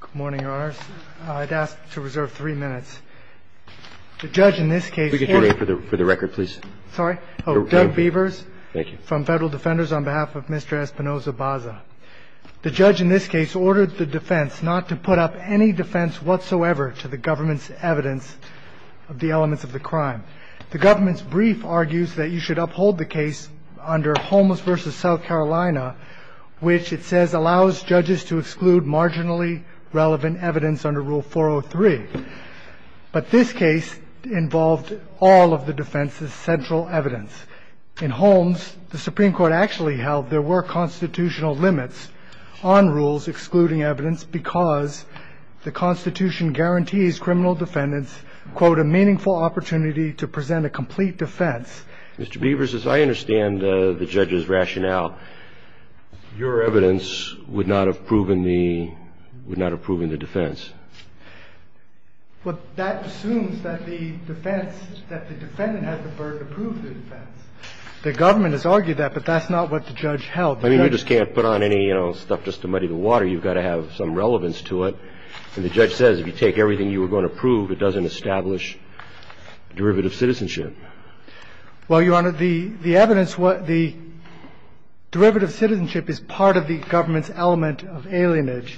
Good morning, Your Honors. I'd ask to reserve three minutes. The judge in this case ordered- Could we get your name for the record, please? Sorry? Oh, Doug Beavers. Thank you. From Federal Defenders on behalf of Mr. Espinoza-Baza. The judge in this case ordered the defense not to put up any defense whatsoever to the government's evidence of the elements of the crime. The government's brief argues that you should uphold the case under Homeless v. South Carolina, which it says allows judges to exclude marginally relevant evidence under Rule 403. But this case involved all of the defense's central evidence. In Holmes, the Supreme Court actually held there were constitutional limits on rules excluding evidence because the Constitution guarantees criminal defendants, quote, a meaningful opportunity to present a complete defense. Mr. Beavers, as I understand the judge's rationale, your evidence would not have proven the defense. Well, that assumes that the defense, that the defendant has the burden to prove the defense. The government has argued that, but that's not what the judge held. I mean, you just can't put on any, you know, stuff just to muddy the water. You've got to have some relevance to it. And the judge says if you take everything you were going to prove, it doesn't establish derivative citizenship. Well, Your Honor, the evidence, the derivative citizenship is part of the government's element of alienage.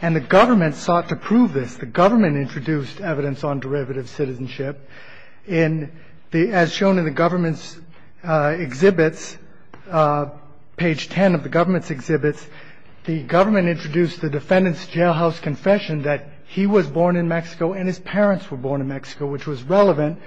And the government sought to prove this. The government introduced evidence on derivative citizenship. As shown in the government's exhibits, page 10 of the government's exhibits, the government introduced the defendant's jailhouse confession that he was born in Mexico and his parents were born in Mexico, which was relevant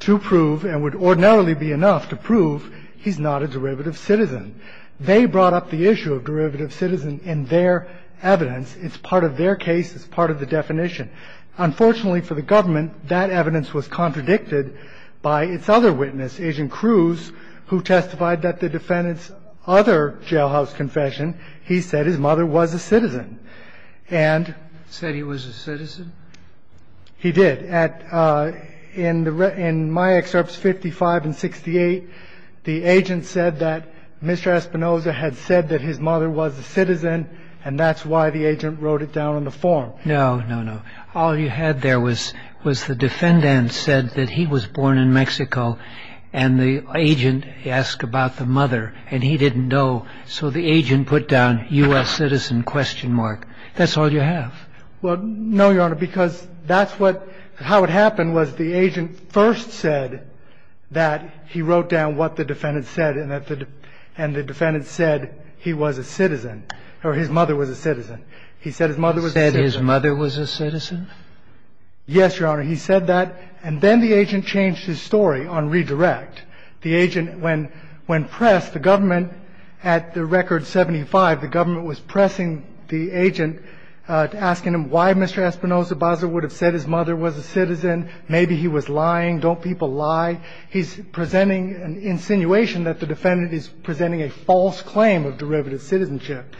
to prove and would ordinarily be enough to prove he's not a derivative citizen. They brought up the issue of derivative citizen in their evidence. It's part of their case. It's part of the definition. Unfortunately for the government, that evidence was contradicted by its other witness, Agent Cruz, who testified that the defendant's other jailhouse confession, he said his mother was a citizen. Said he was a citizen? He did. In my excerpts 55 and 68, the agent said that Mr. Espinoza had said that his mother was a citizen, and that's why the agent wrote it down on the form. No, no, no. All you had there was the defendant said that he was born in Mexico, and the agent asked about the mother, and he didn't know. So the agent put down U.S. citizen question mark. That's all you have. Well, no, Your Honor, because that's what how it happened was the agent first said that he wrote down what the defendant said, and the defendant said he was a citizen, or his mother was a citizen. He said his mother was a citizen. Said his mother was a citizen? Yes, Your Honor. He said that, and then the agent changed his story on redirect. The agent, when pressed, the government, at the record 75, the government was pressing the agent asking him why Mr. Espinoza Baza would have said his mother was a citizen. Maybe he was lying. Don't people lie? He's presenting an insinuation that the defendant is presenting a false claim of derivative citizenship.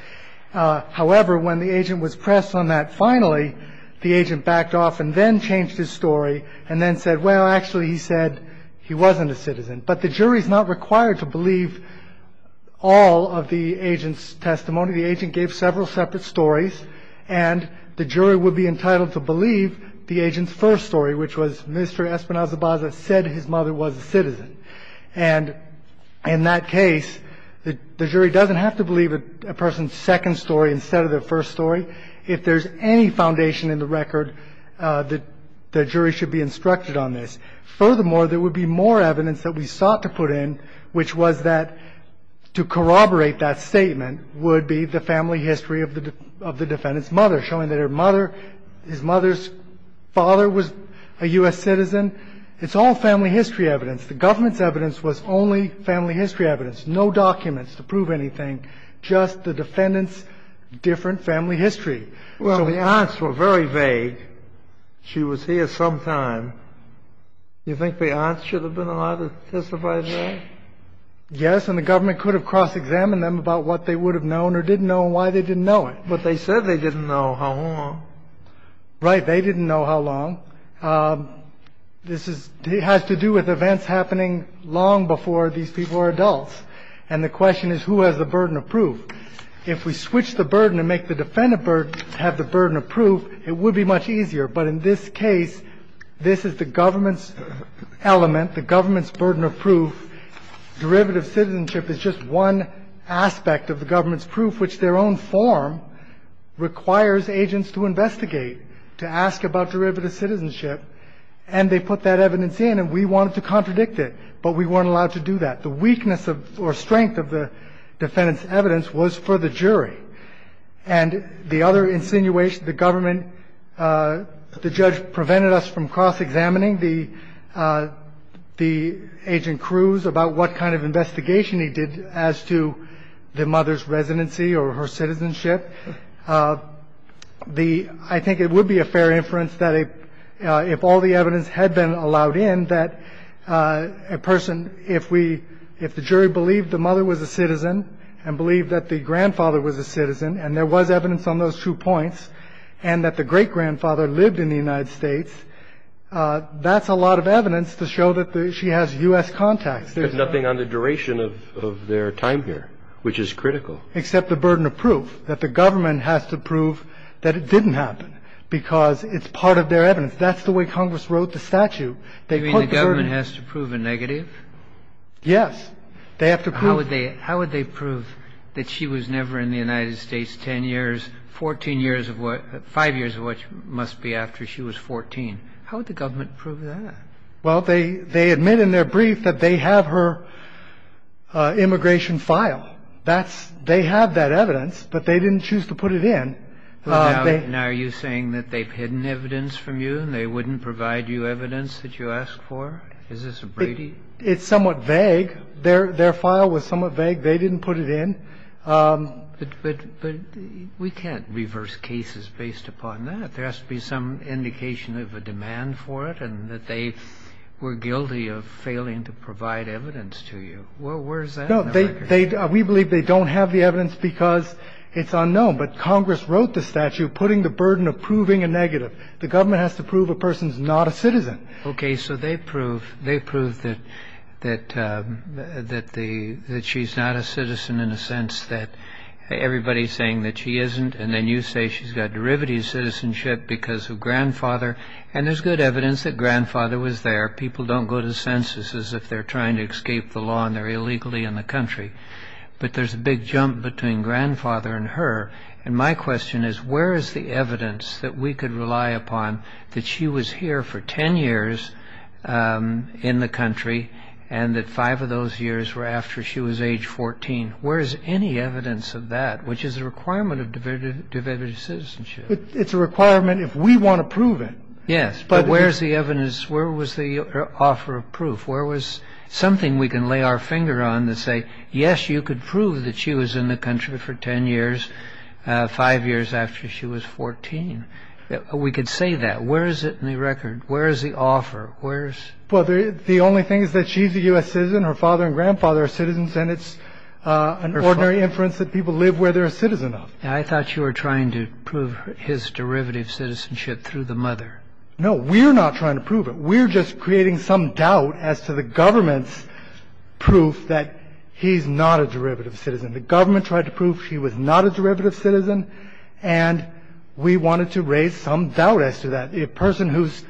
However, when the agent was pressed on that, finally, the agent backed off and then changed his story and then said, well, actually, he said he wasn't a citizen. But the jury is not required to believe all of the agent's testimony. The agent gave several separate stories, and the jury would be entitled to believe the agent's first story, which was Mr. Espinoza Baza said his mother was a citizen. And in that case, the jury doesn't have to believe a person's second story instead of their first story. If there's any foundation in the record, the jury should be instructed on this. Furthermore, there would be more evidence that we sought to put in, which was that to corroborate that statement would be the family history of the defendant's mother, showing that her mother, his mother's father was a U.S. citizen. It's all family history evidence. The government's evidence was only family history evidence, no documents to prove anything, just the defendant's different family history. Well, the aunts were very vague. She was here sometime. You think the aunts should have been allowed to testify today? Yes, and the government could have cross-examined them about what they would have known or didn't know and why they didn't know it. But they said they didn't know how long. Right. They didn't know how long. This has to do with events happening long before these people are adults. And the question is, who has the burden of proof? If we switch the burden and make the defendant have the burden of proof, it would be much easier. But in this case, this is the government's element, the government's burden of proof. Derivative citizenship is just one aspect of the government's proof, which their own form requires agents to investigate, to ask about derivative citizenship. And they put that evidence in, and we wanted to contradict it, but we weren't allowed to do that. The weakness or strength of the defendant's evidence was for the jury. And the other insinuation, the government, the judge prevented us from cross-examining the agent Cruz about what kind of investigation he did as to the mother's residency or her citizenship. I think it would be a fair inference that if all the evidence had been allowed in, that a person, if the jury believed the mother was a citizen and believed that the grandfather was a citizen, and there was evidence on those two points, and that the great-grandfather lived in the United States, that's a lot of evidence to show that she has U.S. contacts. There's nothing on the duration of their time here, which is critical. Except the burden of proof, that the government has to prove that it didn't happen because it's part of their evidence. That's the way Congress wrote the statute. They put the burden of proof. I mean, the government has to prove a negative? They have to prove it. Kennedy. How would they prove that she was never in the United States 10 years, 14 years, five years of which must be after she was 14? How would the government prove that? Well, they admit in their brief that they have her immigration file. That's they have that evidence, but they didn't choose to put it in. Now, are you saying that they've hidden evidence from you and they wouldn't provide you evidence that you asked for? Is this a Brady? It's somewhat vague. Their file was somewhat vague. They didn't put it in. But we can't reverse cases based upon that. There has to be some indication of a demand for it and that they were guilty of failing to provide evidence to you. Where is that in the record? We believe they don't have the evidence because it's unknown. But Congress wrote the statute putting the burden of proving a negative. The government has to prove a person's not a citizen. Okay. So they prove that she's not a citizen in a sense that everybody's saying that she isn't. And then you say she's got derivative citizenship because of grandfather. And there's good evidence that grandfather was there. People don't go to censuses if they're trying to escape the law and their illegality in the country. But there's a big jump between grandfather and her. And my question is, where is the evidence that we could rely upon that she was here for 10 years in the country and that five of those years were after she was age 14? Where is any evidence of that, which is a requirement of derivative citizenship? It's a requirement if we want to prove it. Yes. But where is the evidence? Where was the offer of proof? Where was something we can lay our finger on and say, yes, you could prove that she was in the country for 10 years, five years after she was 14? We could say that. Where is it in the record? Where is the offer? Where is it? Well, the only thing is that she's a U.S. citizen, her father and grandfather are citizens, and it's an ordinary inference that people live where they're a citizen of. I thought you were trying to prove his derivative citizenship through the mother. No. We're not trying to prove it. We're just creating some doubt as to the government's proof that he's not a derivative citizen. The government tried to prove she was not a derivative citizen, and we wanted to raise some doubt as to that. A person whose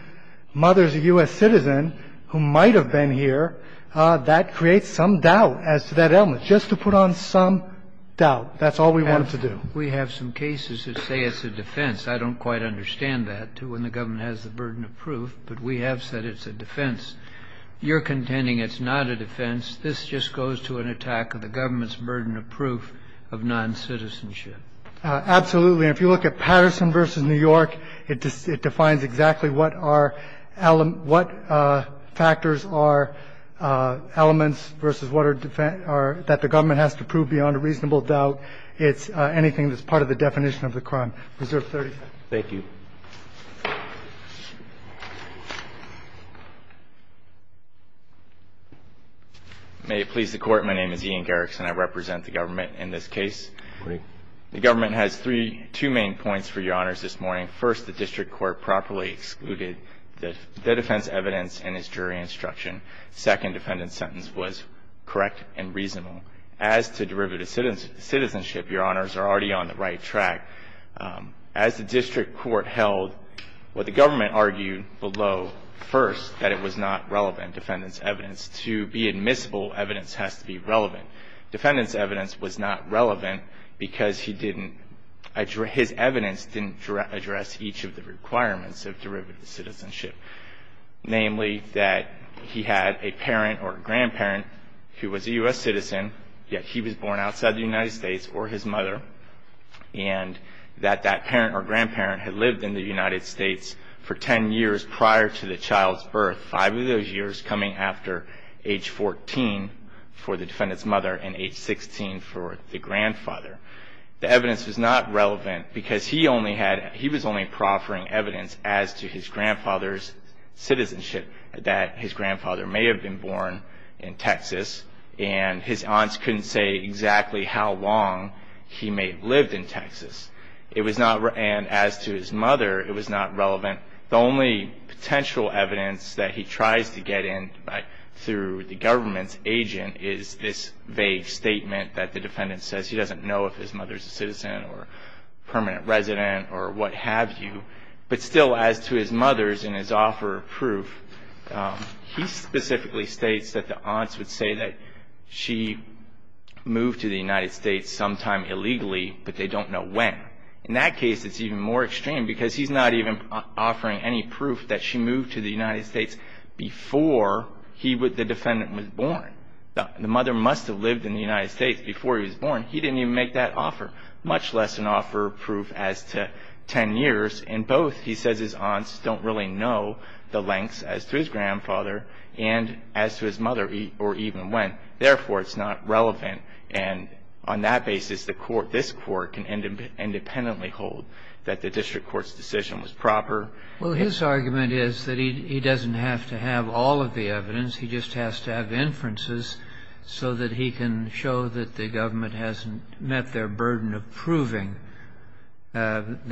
mother is a U.S. citizen who might have been here, that creates some doubt as to that element, just to put on some doubt. That's all we wanted to do. And we have some cases that say it's a defense. I don't quite understand that, to when the government has the burden of proof, but we have said it's a defense. You're contending it's not a defense. This just goes to an attack of the government's burden of proof of noncitizenship. Absolutely. And if you look at Patterson v. New York, it defines exactly what our element – what factors are elements versus what are – that the government has to prove beyond a reasonable doubt. It's anything that's part of the definition of the crime. Preserve 30 seconds. Thank you. May it please the Court. My name is Ian Garrickson. I represent the government in this case. Good morning. The government has three – two main points for Your Honors this morning. First, the district court properly excluded the defense evidence in its jury instruction. Second, defendant's sentence was correct and reasonable. As to derivative citizenship, Your Honors, we're already on the right track. As the district court held what the government argued below first, that it was not relevant, defendant's evidence, to be admissible evidence has to be relevant. Defendant's evidence was not relevant because he didn't – his evidence didn't address each of the requirements of derivative citizenship, namely that he had a parent or a grandparent who was a U.S. citizen, yet he was born outside the United States or his mother, and that that parent or grandparent had lived in the United States for 10 years prior to the child's birth, five of those years coming after age 14 for the defendant's mother and age 16 for the grandfather. The evidence was not relevant because he only had – he was only proffering evidence as to his grandfather's citizenship, that his grandfather may have been born in Texas, and his aunts couldn't say exactly how long he may have lived in Texas. It was not – and as to his mother, it was not relevant. The only potential evidence that he tries to get in through the government's agent is this vague statement that the defendant says he doesn't know if his mother's a citizen or permanent resident or what have you, but still as to his mother's and his offer of proof, he specifically states that the aunts would say that she moved to the United States sometime illegally, but they don't know when. In that case, it's even more extreme because he's not even offering any proof that she moved to the United States before he would – the defendant was born. The mother must have lived in the United States before he was born. He didn't even make that offer, much less an offer of proof as to 10 years. In both, he says his aunts don't really know the lengths as to his grandfather and as to his mother or even when. Therefore, it's not relevant. And on that basis, the court – this court can independently hold that the district court's decision was proper. Well, his argument is that he doesn't have to have all of the evidence. He just has to have inferences so that he can show that the government hasn't met their burden of proving that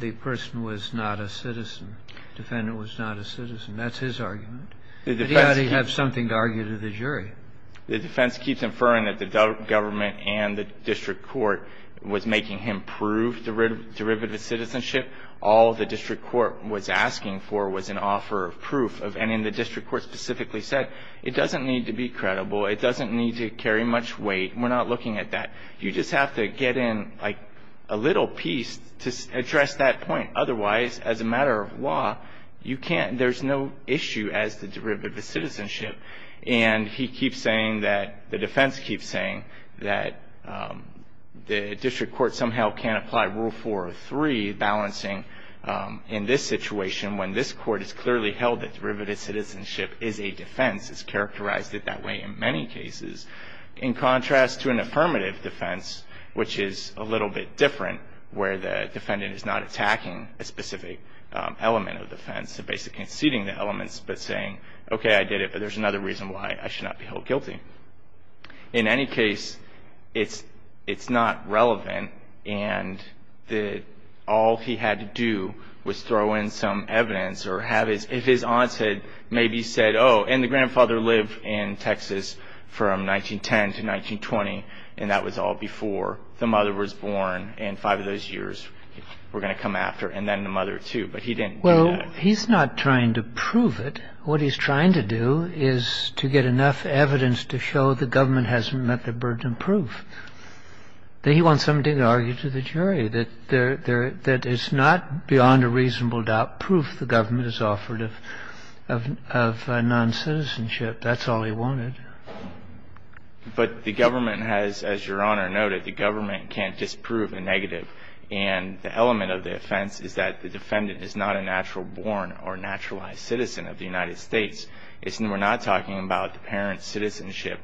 the person was not a citizen, the defendant was not a citizen. That's his argument. But he ought to have something to argue to the jury. The defense keeps inferring that the government and the district court was making him prove derivative citizenship. All the district court was asking for was an offer of proof. And the district court specifically said it doesn't need to be credible. It doesn't need to carry much weight. We're not looking at that. You just have to get in, like, a little piece to address that point. Otherwise, as a matter of law, you can't – there's no issue as to derivative citizenship. And he keeps saying that – the defense keeps saying that the district court somehow can't apply Rule 403, balancing in this situation when this court has clearly held that derivative citizenship is a defense, has characterized it that way in many cases. In contrast to an affirmative defense, which is a little bit different, where the defendant is not attacking a specific element of the defense, basically conceding the elements, but saying, okay, I did it, but there's another reason why I should not be held guilty. In any case, it's not relevant, and all he had to do was throw in some evidence or have his – if his aunt had maybe said, oh, and the grandfather lived in Texas from 1910 to 1920, and that was all before the mother was born, and five of those years were going to come after, and then the mother, too. But he didn't do that. Well, he's not trying to prove it. What he's trying to do is to get enough evidence to show the government hasn't met the burden of proof. Then he wants somebody to argue to the jury that there – that it's not beyond a reasonable doubt proof the government has offered of noncitizenship. That's all he wanted. But the government has, as Your Honor noted, the government can't disprove a negative. And the element of the offense is that the defendant is not a natural born or naturalized citizen of the United States. We're not talking about the parent's citizenship.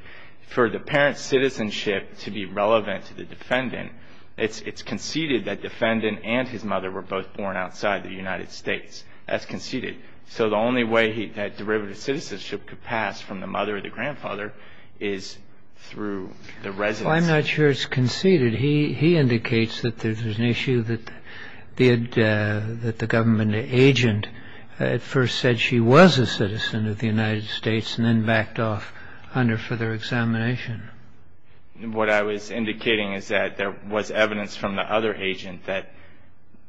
For the parent's citizenship to be relevant to the defendant, it's conceded that defendant and his mother were both born outside the United States. That's conceded. So the only way that derivative citizenship could pass from the mother or the grandfather is through the residence. Well, I'm not sure it's conceded. He indicates that there's an issue that the government agent at first said she was a citizen of the United States and then backed off under further examination. What I was indicating is that there was evidence from the other agent that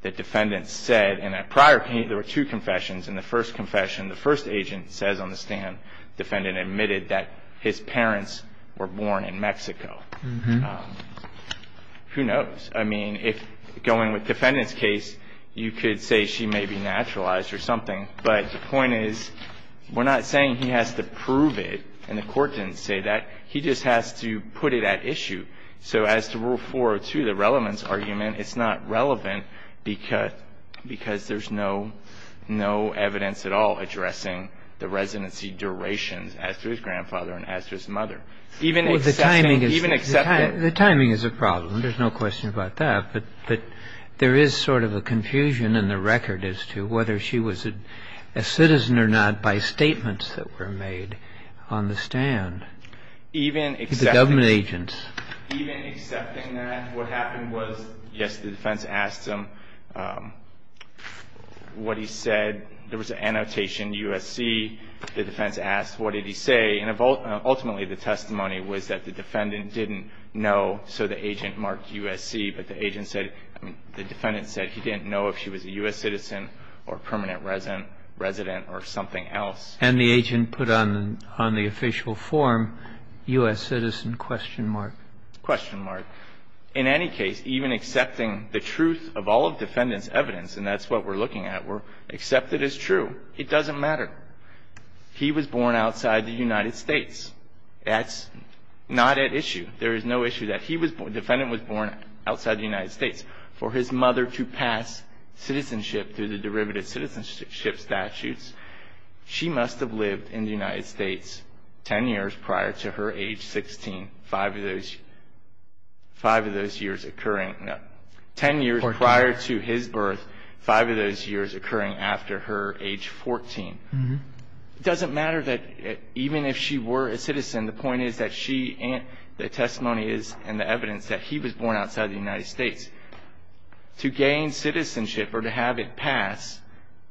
the defendant said – in a prior case, there were two confessions. In the first confession, the first agent says on the stand, defendant admitted that his parents were born in Mexico. Who knows? I mean, if going with defendant's case, you could say she may be naturalized or something. But the point is, we're not saying he has to prove it, and the Court didn't say that. He just has to put it at issue. So as to Rule 402, the relevance argument, it's not relevant because there's no evidence at all addressing the residency durations as to his grandfather and as to his mother. Even excepting – even excepting – The timing is a problem. There's no question about that. But there is sort of a confusion in the record as to whether she was a citizen or not by statements that were made on the stand. Even excepting – The government agents. Even excepting that, what happened was, yes, the defense asked him what he said. There was an annotation, USC. The defense asked, what did he say? And ultimately, the testimony was that the defendant didn't know, so the agent marked USC, but the agent said – I mean, the defendant said he didn't know if she was a U.S. citizen or permanent resident or something else. And the agent put on the official form, U.S. citizen, question mark. Question mark. In any case, even accepting the truth of all of the defendant's evidence, and that's what we're looking at, except that it's true, it doesn't matter. He was born outside the United States. That's not at issue. There is no issue that he was – the defendant was born outside the United States. For his mother to pass citizenship through the derivative citizenship statutes, she must have lived in the United States 10 years prior to her age 16, five of those years occurring – no, 10 years prior to his birth, five of those years occurring after her age 14. It doesn't matter that – even if she were a citizen, the point is that she – the testimony is and the evidence that he was born outside the United States. To gain citizenship or to have it pass,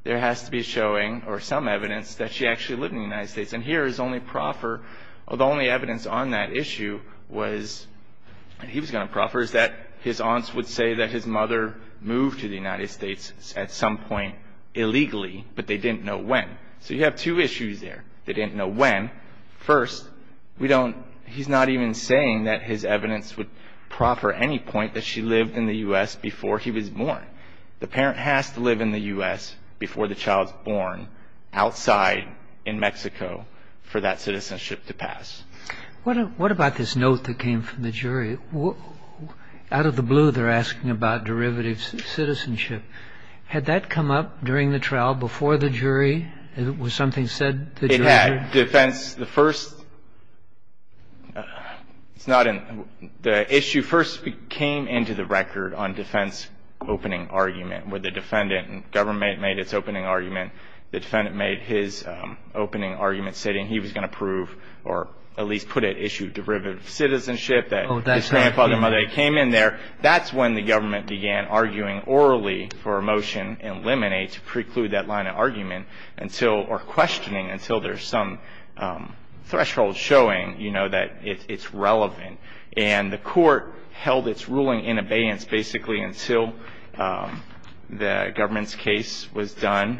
there has to be a showing or some evidence that she actually lived in the United States. And here is only proffer – the only evidence on that issue was – and he was going to proffer – is that his aunts would say that his mother moved to the United States at some point illegally, but they didn't know when. So you have two issues there. They didn't know when. First, we don't – he's not even saying that his evidence would proffer any point that she lived in the U.S. before he was born. The parent has to live in the U.S. before the child is born outside in Mexico for that citizenship to pass. What about this note that came from the jury? Out of the blue, they're asking about derivative citizenship. Had that come up during the trial before the jury? Was something said to the jury? It had. Defense – the first – it's not in – the issue first came into the record on defense opening argument, where the defendant and government made its opening argument. The defendant made his opening argument, saying he was going to prove or at least put at issue derivative citizenship, that his grandfather and mother came in there. That's when the government began arguing orally for a motion in limine to preclude that line of argument until – or questioning until there's some threshold showing, you know, that it's relevant. And the court held its ruling in abeyance basically until the government's case was to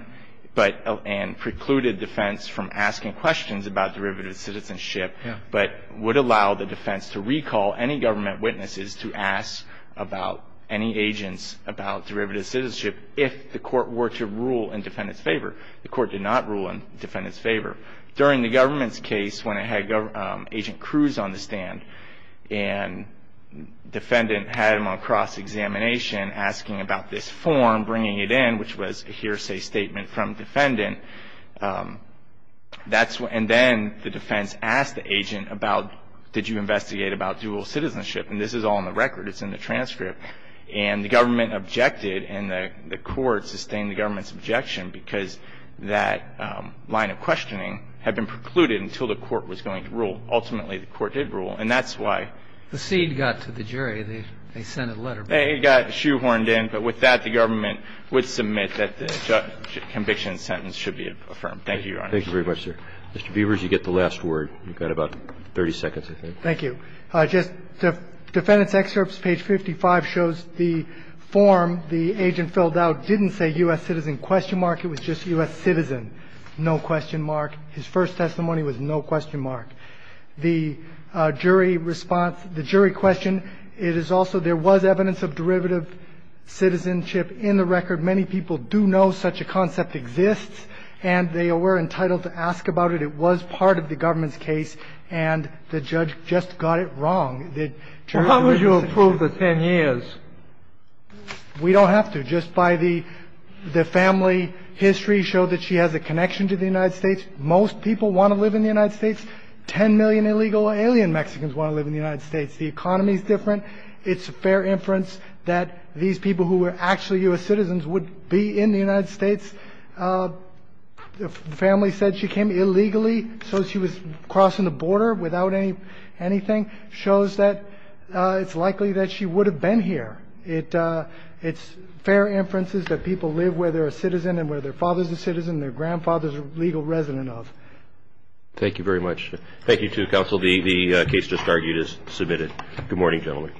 recall any government witnesses to ask about any agents about derivative citizenship if the court were to rule in defendant's favor. The court did not rule in defendant's favor. During the government's case, when it had Agent Cruz on the stand and defendant had him on cross-examination asking about this form, bringing it in, which was a hearsay statement from defendant, that's when – and then the defense asked the agent about did you investigate about dual citizenship. And this is all in the record. It's in the transcript. And the government objected, and the court sustained the government's objection because that line of questioning had been precluded until the court was going to rule. Ultimately, the court did rule, and that's why. The seed got to the jury. They sent a letter. They got shoehorned in. But with that, the government would submit that the conviction sentence should be affirmed. Thank you, Your Honor. Thank you very much, sir. Mr. Beavers, you get the last word. You've got about 30 seconds, I think. Thank you. Just defendant's excerpts, page 55, shows the form. The agent filled out didn't say U.S. citizen, question mark. It was just U.S. citizen, no question mark. His first testimony was no question mark. The jury response, the jury question, it is also there was evidence of derivative citizenship in the record. Many people do know such a concept exists, and they were entitled to ask about it. It was part of the government's case, and the judge just got it wrong. How would you approve the 10 years? We don't have to. Just by the family history showed that she has a connection to the United States. Most people want to live in the United States. Ten million illegal alien Mexicans want to live in the United States. The economy is different. It's a fair inference that these people who were actually U.S. citizens would be in the United States. The family said she came illegally, so she was crossing the border without anything, shows that it's likely that she would have been here. It's fair inferences that people live where they're a citizen and where their father's a citizen and their grandfather's a legal resident of. Thank you very much. Thank you, too, counsel. The case just argued is submitted. Good morning, gentlemen.